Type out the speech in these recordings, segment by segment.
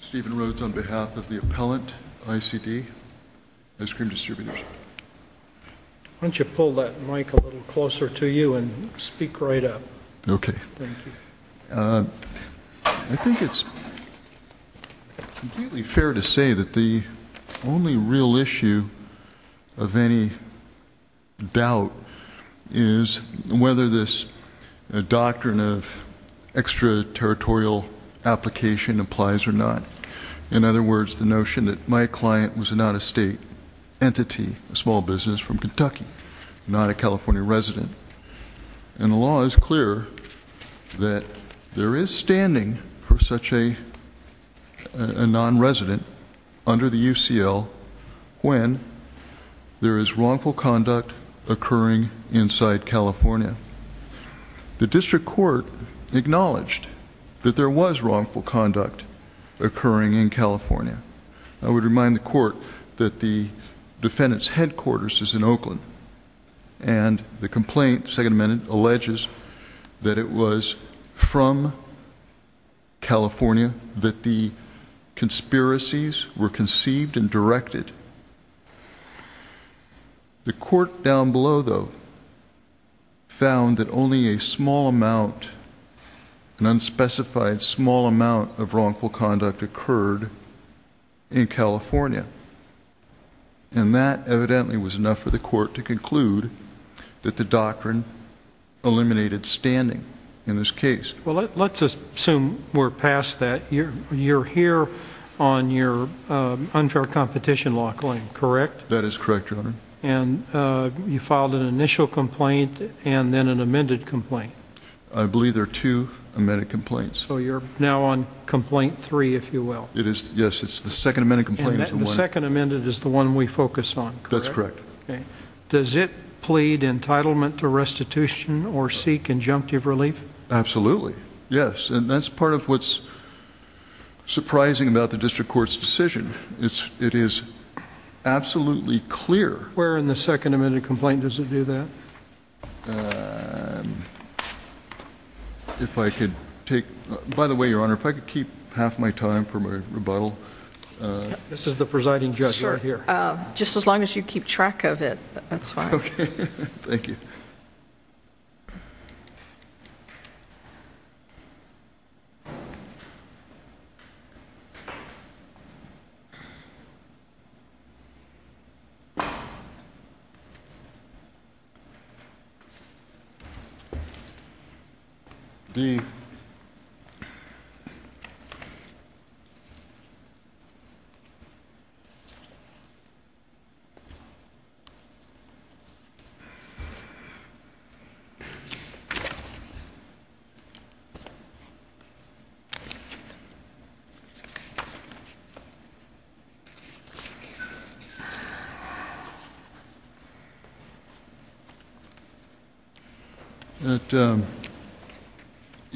Stephen Rhodes on behalf of the Appellant, ICD, Ice Cream Distributors. Why don't you pull that mic a little closer to you and speak right up. Okay. Thank you. I think it's completely fair to say that the only real issue of any doubt is whether this doctrine of extraterritorial application applies or not. In other words, the notion that my client was not a state entity, a small business from Kentucky, not a California resident. And the law is clear that there is standing for such a non-resident under the UCL when there is wrongful conduct occurring inside California. The district court acknowledged that there was wrongful conduct occurring in California. I would remind the court that the defendant's headquarters is in Oakland. And the complaint, Second Amendment, alleges that it was from California that the conspiracies were conceived and directed. The court down below, though, found that only a small amount, an unspecified small amount of wrongful conduct occurred in California. And that evidently was enough for the court to conclude that the doctrine eliminated standing in this case. Well, let's assume we're past that. You're here on your unfair competition law claim, correct? That is correct, Your Honor. And you filed an initial complaint and then an amended complaint. I believe there are two amended complaints. So you're now on complaint three, if you will. Yes, it's the second amended complaint. And the second amended is the one we focus on, correct? That's correct. Okay. Does it plead entitlement to restitution or seek injunctive relief? Absolutely. Yes. And that's part of what's surprising about the district court's decision. It is absolutely clear. Where in the second amended complaint does it do that? If I could take, by the way, Your Honor, if I could keep half my time for my rebuttal. This is the presiding judge. You're here. Just as long as you keep track of it, that's fine. Okay, thank you. Thank you. B. But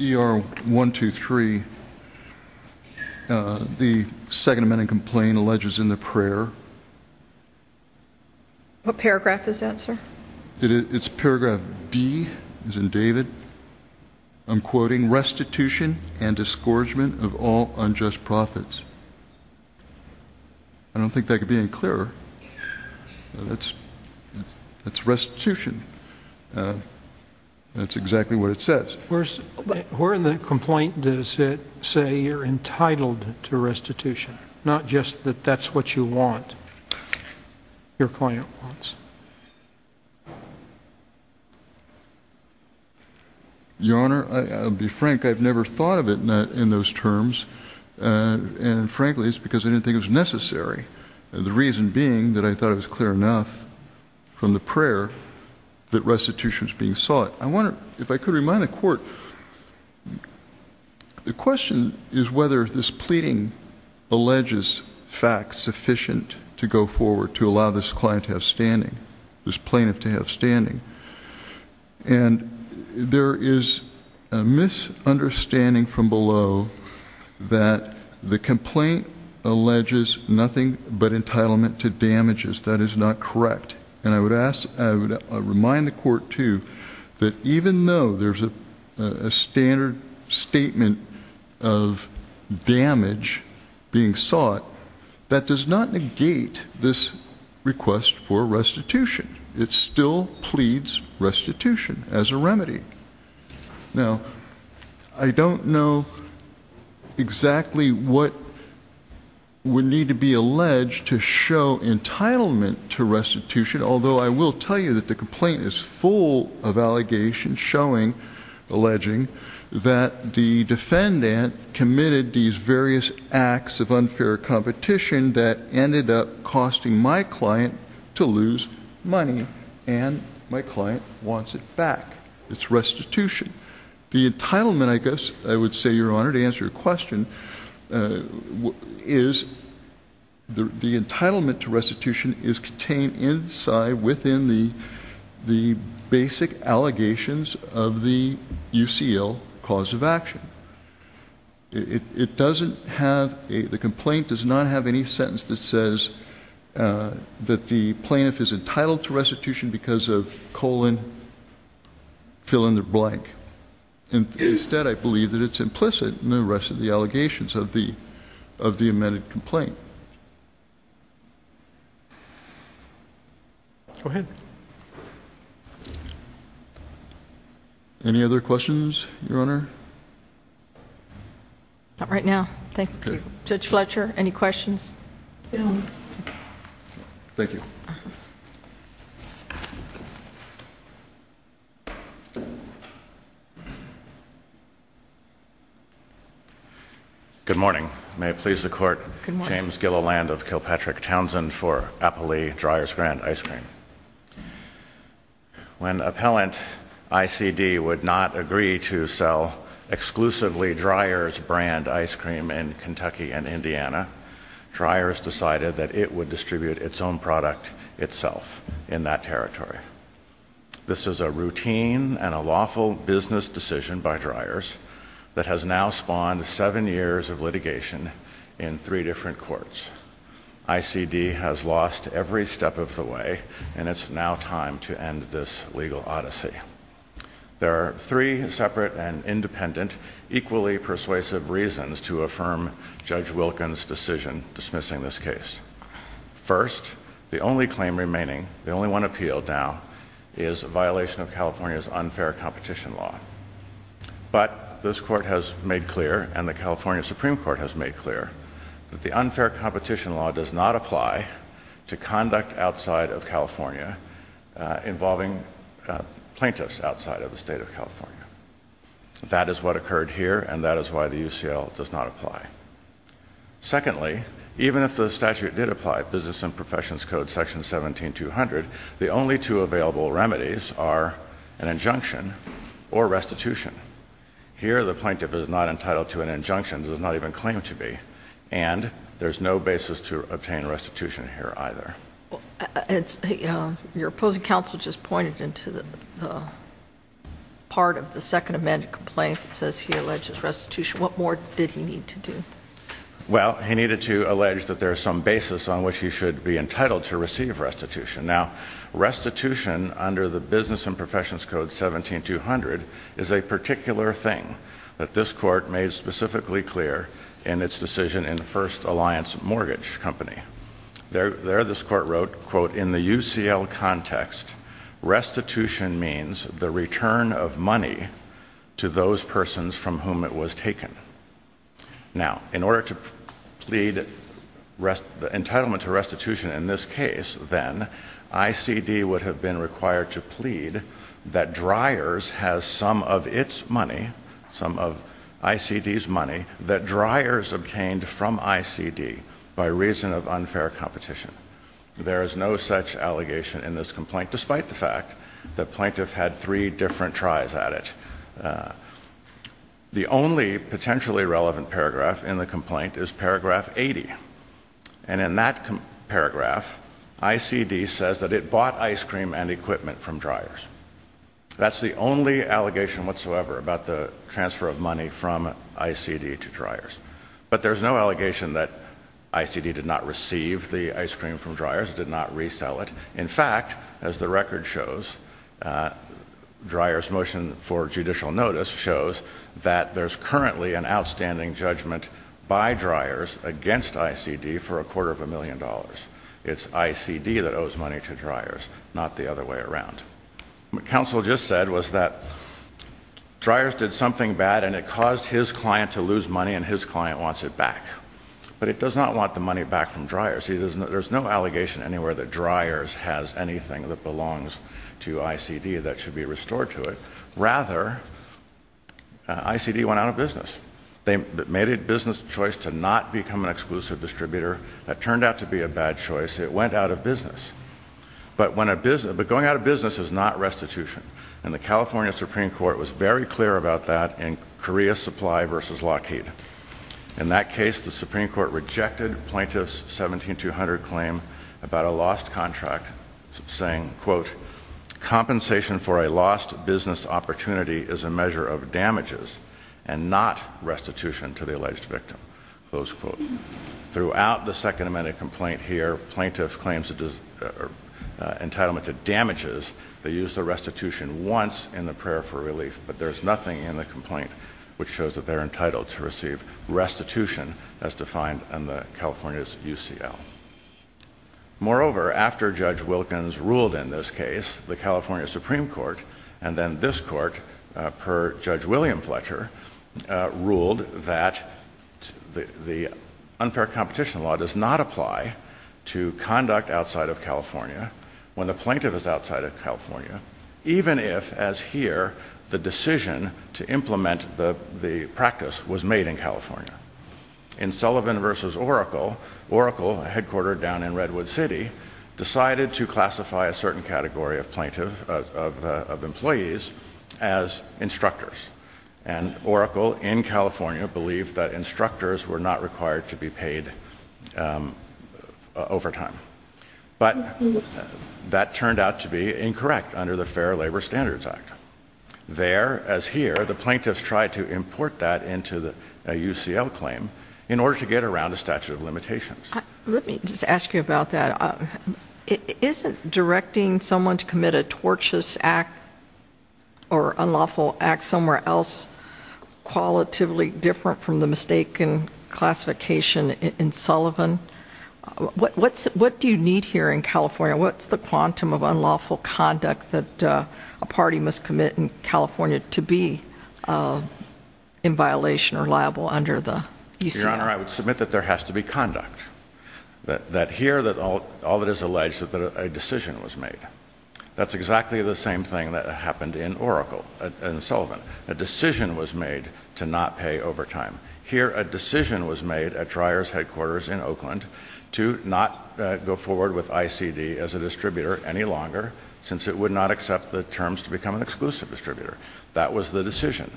ER 123, the second amended complaint alleges in the prayer. What paragraph is that, sir? It's paragraph D, as in David. I'm quoting, restitution and disgorgement of all unjust profits. I don't think that could be any clearer. That's restitution. That's exactly what it says. Where in the complaint does it say you're entitled to restitution, not just that that's what you want, your client wants? Your Honor, I'll be frank. I've never thought of it in those terms. And frankly, it's because I didn't think it was necessary. The reason being that I thought it was clear enough from the prayer that restitution was being sought. If I could remind the court, the question is whether this pleading alleges facts sufficient to go forward to allow this client to have standing, this plaintiff to have standing. And there is a misunderstanding from below that the complaint alleges nothing but entitlement to damages. That is not correct. And I would ask, I would remind the court, too, that even though there's a standard statement of damage being sought, that does not negate this request for restitution. It still pleads restitution as a remedy. Now, I don't know exactly what would need to be alleged to show entitlement to restitution. The entitlement, I guess, I would say, Your Honor, to answer your question, is the entitlement to restitution is contained inside, within the basic allegations of the UCL cause of action. It doesn't have, the complaint does not have any sentence that says that the plaintiff is entitled to restitution because of colon fill in the blank. Instead, I believe that it's implicit in the rest of the allegations of the amended complaint. Go ahead. Any other questions, Your Honor? Not right now. Thank you. Judge Fletcher, any questions? No. Thank you. Good morning. May it please the court. Good morning. My name's Gilliland of Kilpatrick Townsend for Appley Dryers Grand Ice Cream. When appellant ICD would not agree to sell exclusively Dryers brand ice cream in Kentucky and Indiana, Dryers decided that it would distribute its own product itself in that territory. This is a routine and a lawful business decision by Dryers that has now spawned seven years of litigation in three different courts. ICD has lost every step of the way, and it's now time to end this legal odyssey. There are three separate and independent, equally persuasive reasons to affirm Judge Wilkins' decision dismissing this case. First, the only claim remaining, the only one appealed now, is a violation of California's unfair competition law. But this court has made clear, and the California Supreme Court has made clear, that the unfair competition law does not apply to conduct outside of California involving plaintiffs outside of the state of California. That is what occurred here, and that is why the UCL does not apply. Secondly, even if the statute did apply, Business and Professions Code Section 17200, the only two available remedies are an injunction or restitution. Here, the plaintiff is not entitled to an injunction, does not even claim to be, and there's no basis to obtain restitution here either. Your opposing counsel just pointed into the part of the Second Amendment complaint that says he alleges restitution. What more did he need to do? Well, he needed to allege that there's some basis on which he should be entitled to receive restitution. Now, restitution under the Business and Professions Code 17200 is a particular thing that this court made specifically clear in its decision in First Alliance Mortgage Company. There, this court wrote, quote, in the UCL context, restitution means the return of money to those persons from whom it was taken. Now, in order to plead entitlement to restitution in this case, then, ICD would have been required to plead that Dreyer's has some of its money, some of ICD's money, that Dreyer's obtained from ICD by reason of unfair competition. There is no such allegation in this complaint, despite the fact the plaintiff had three different tries at it. The only potentially relevant paragraph in the complaint is paragraph 80. And in that paragraph, ICD says that it bought ice cream and equipment from Dreyer's. That's the only allegation whatsoever about the transfer of money from ICD to Dreyer's. But there's no allegation that ICD did not receive the ice cream from Dreyer's, did not resell it. In fact, as the record shows, Dreyer's motion for judicial notice shows that there's currently an outstanding judgment by Dreyer's against ICD for a quarter of a million dollars. It's ICD that owes money to Dreyer's, not the other way around. What counsel just said was that Dreyer's did something bad and it caused his client to lose money and his client wants it back. But it does not want the money back from Dreyer's. There's no allegation anywhere that Dreyer's has anything that belongs to ICD that should be restored to it. Rather, ICD went out of business. They made a business choice to not become an exclusive distributor. That turned out to be a bad choice. It went out of business. But going out of business is not restitution. And the California Supreme Court was very clear about that in Korea Supply v. Lockheed. In that case, the Supreme Court rejected plaintiff's 17200 claim about a lost contract saying, quote, compensation for a lost business opportunity is a measure of damages and not restitution to the alleged victim. Close quote. Throughout the second amended complaint here, plaintiff claims entitlement to damages. They use the restitution once in the prayer for relief. But there's nothing in the complaint which shows that they're entitled to receive restitution as defined in California's UCL. Moreover, after Judge Wilkins ruled in this case, the California Supreme Court and then this court, per Judge William Fletcher, ruled that the unfair competition law does not apply to conduct outside of California when the plaintiff is outside of California, even if, as here, the decision to implement the practice was made in California. In Sullivan v. Oracle, Oracle, a headquarter down in Redwood City, decided to classify a certain category of employees as instructors. And Oracle in California believed that instructors were not required to be paid overtime. But that turned out to be incorrect under the Fair Labor Standards Act. There, as here, the plaintiffs tried to import that into a UCL claim in order to get around a statute of limitations. Let me just ask you about that. Isn't directing someone to commit a tortious act or unlawful act somewhere else qualitatively different from the mistaken classification in Sullivan? What do you need here in California? What's the quantum of unlawful conduct that a party must commit in California to be in violation or liable under the UCL? Your Honor, I would submit that there has to be conduct. That here, all that is alleged is that a decision was made. That's exactly the same thing that happened in Oracle, in Sullivan. A decision was made to not pay overtime. Here, a decision was made at Dreyer's headquarters in Oakland to not go forward with ICD as a distributor any longer, since it would not accept the terms to become an exclusive distributor. That was the decision.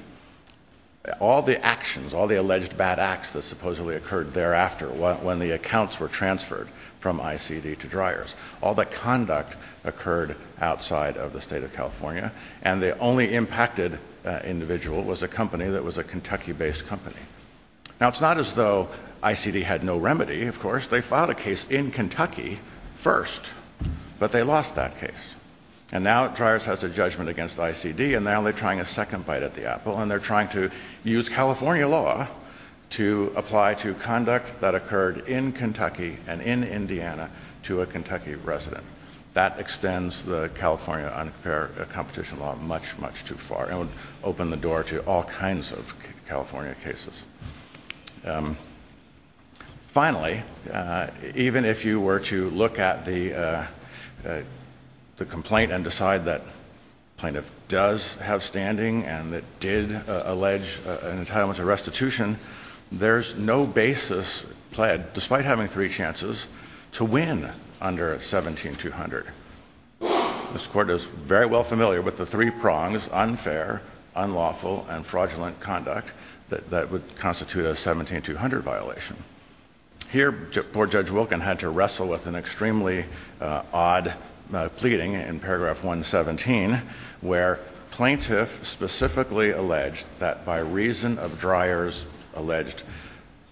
All the actions, all the alleged bad acts that supposedly occurred thereafter, when the accounts were transferred from ICD to Dreyer's, all the conduct occurred outside of the state of California, and the only impacted individual was a company that was a Kentucky-based company. Now, it's not as though ICD had no remedy, of course. They filed a case in Kentucky first, but they lost that case. And now Dreyer's has a judgment against ICD, and now they're trying a second bite at the apple, and they're trying to use California law to apply to conduct that occurred in Kentucky and in Indiana to a Kentucky resident. That extends the California unfair competition law much, much too far. It would open the door to all kinds of California cases. Finally, even if you were to look at the complaint and decide that plaintiff does have standing and that did allege an entitlement to restitution, there's no basis pled, despite having three chances, to win under 17-200. This Court is very well familiar with the three prongs, unfair, unlawful, and fraudulent conduct that would constitute a 17-200 violation. Here, poor Judge Wilkin had to wrestle with an extremely odd pleading in paragraph 117, where plaintiff specifically alleged that by reason of Dreyer's alleged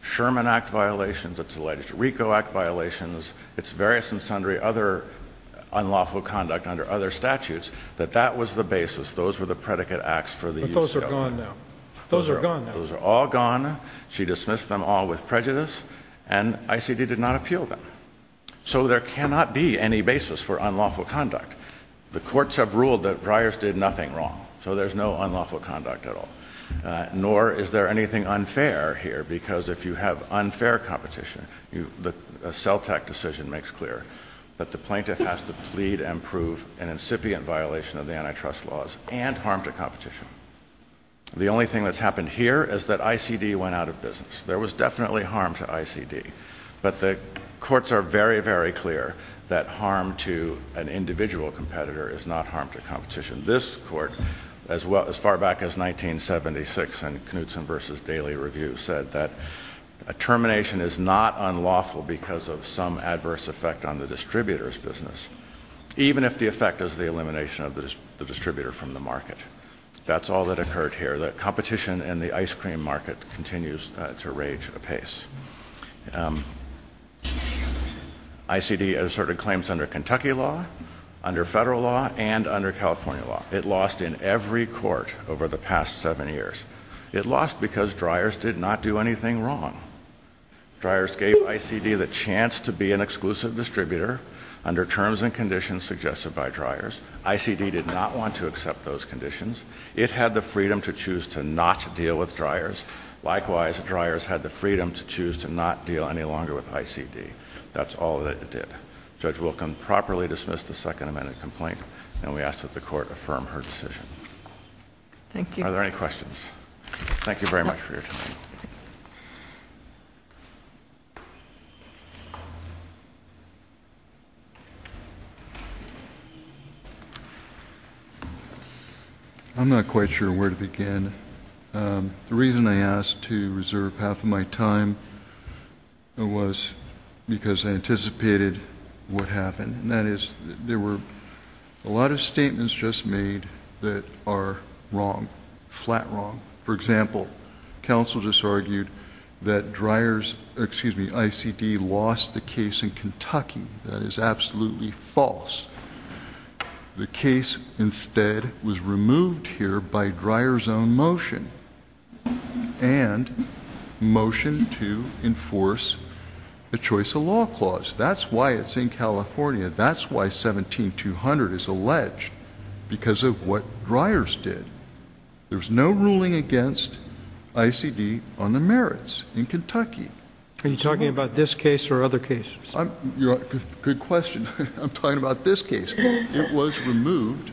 Sherman Act violations, alleged RICO Act violations, its various and sundry other unlawful conduct under other statutes, that that was the basis, those were the predicate acts for the use of government. But those are gone now. Those are gone now. Those are all gone. She dismissed them all with prejudice, and ICD did not appeal them. So there cannot be any basis for unlawful conduct. The courts have ruled that Dreyer's did nothing wrong, so there's no unlawful conduct at all. Nor is there anything unfair here, because if you have unfair competition, a CELTAC decision makes clear that the plaintiff has to plead and prove an incipient violation of the antitrust laws and harm to competition. The only thing that's happened here is that ICD went out of business. There was definitely harm to ICD. But the courts are very, very clear that harm to an individual competitor is not harm to competition. This court, as far back as 1976 in Knutson v. Daily Review, said that a termination is not unlawful because of some adverse effect on the distributor's business, even if the effect is the elimination of the distributor from the market. That's all that occurred here. The competition in the ice cream market continues to rage apace. ICD asserted claims under Kentucky law, under federal law, and under California law. It lost in every court over the past seven years. It lost because Dreyer's did not do anything wrong. Dreyer's gave ICD the chance to be an exclusive distributor under terms and conditions suggested by Dreyer's. ICD did not want to accept those conditions. It had the freedom to choose to not deal with Dreyer's. Likewise, Dreyer's had the freedom to choose to not deal any longer with ICD. That's all that it did. Judge Wilken properly dismissed the Second Amendment complaint, and we ask that the court affirm her decision. Thank you. Are there any questions? Thank you very much for your time. I'm not quite sure where to begin. The reason I asked to reserve half of my time was because I anticipated what happened, and that is there were a lot of statements just made that are wrong, flat wrong. For example, counsel just argued that ICD lost the case in Kentucky. That is absolutely false. The case instead was removed here by Dreyer's own motion and motion to enforce a choice of law clause. That's why it's in California. That's why 17200 is alleged because of what Dreyer's did. There's no ruling against ICD on the merits in Kentucky. Are you talking about this case or other cases? Good question. I'm talking about this case. It was removed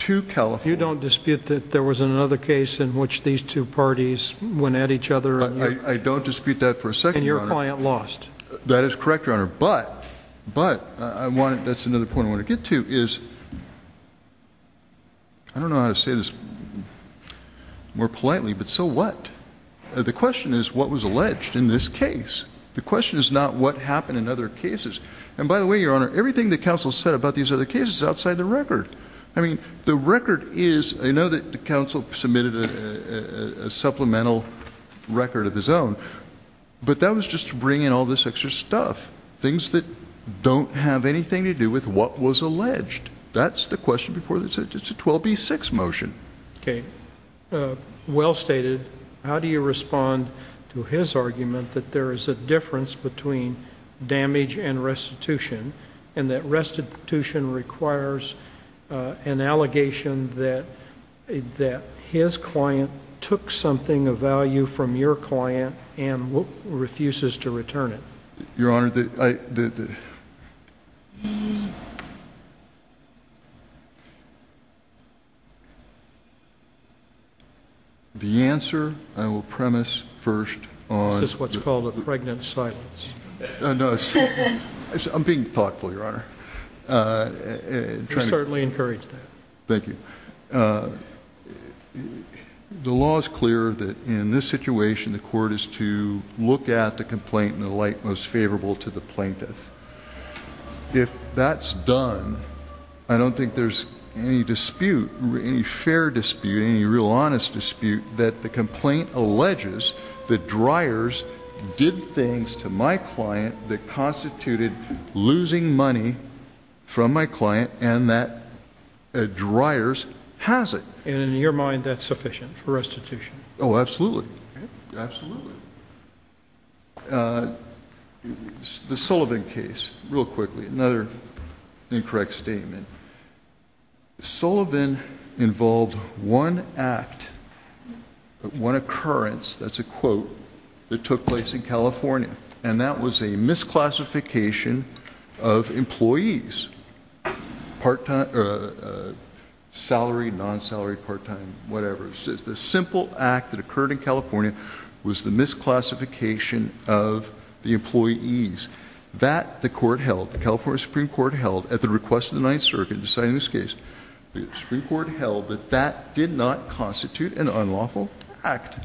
to California. You don't dispute that there was another case in which these two parties went at each other? I don't dispute that for a second, Your Honor. And your client lost. That is correct, Your Honor. But I want to get to another point. I don't know how to say this more politely, but so what? The question is what was alleged in this case. The question is not what happened in other cases. And, by the way, Your Honor, everything the counsel said about these other cases is outside the record. I mean, the record is I know that the counsel submitted a supplemental record of his own, but that was just to bring in all this extra stuff, things that don't have anything to do with what was alleged. That's the question before the 12B6 motion. Okay. Well stated. How do you respond to his argument that there is a difference between damage and restitution and that restitution requires an allegation that his client took something of value from your client and refuses to return it? Your Honor, the answer I will premise first on. This is what's called a pregnant silence. No, I'm being thoughtful, Your Honor. I certainly encourage that. Thank you. The law is clear that in this situation the court is to look at the complaint in the light most favorable to the plaintiff. If that's done, I don't think there's any dispute, any fair dispute, any real honest dispute that the complaint alleges that Dreyers did things to my client that constituted losing money from my client and that Dreyers has it. And in your mind that's sufficient for restitution? Oh, absolutely. Okay. Absolutely. The Sullivan case, real quickly, another incorrect statement. Sullivan involved one act, one occurrence, that's a quote, that took place in California, and that was a misclassification of employees, salaried, non-salaried, part-time, whatever. The simple act that occurred in California was the misclassification of the employees. That the court held, the California Supreme Court held at the request of the Ninth Circuit deciding this case, the Supreme Court held that that did not constitute an unlawful act.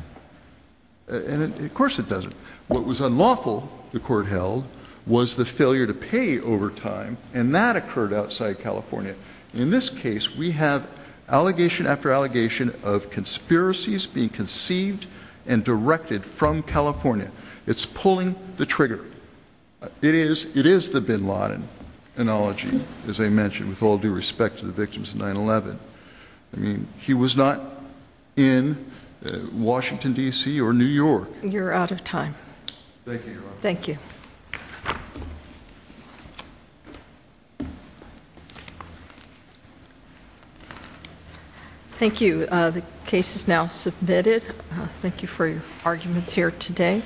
And of course it doesn't. What was unlawful, the court held, was the failure to pay over time, and that occurred outside California. In this case, we have allegation after allegation of conspiracies being conceived and directed from California. It's pulling the trigger. It is the Bin Laden analogy, as I mentioned, with all due respect to the victims of 9-11. I mean, he was not in Washington, D.C. or New York. You're out of time. Thank you, Your Honor. Thank you. Thank you. The case is now submitted. Thank you for your arguments here today.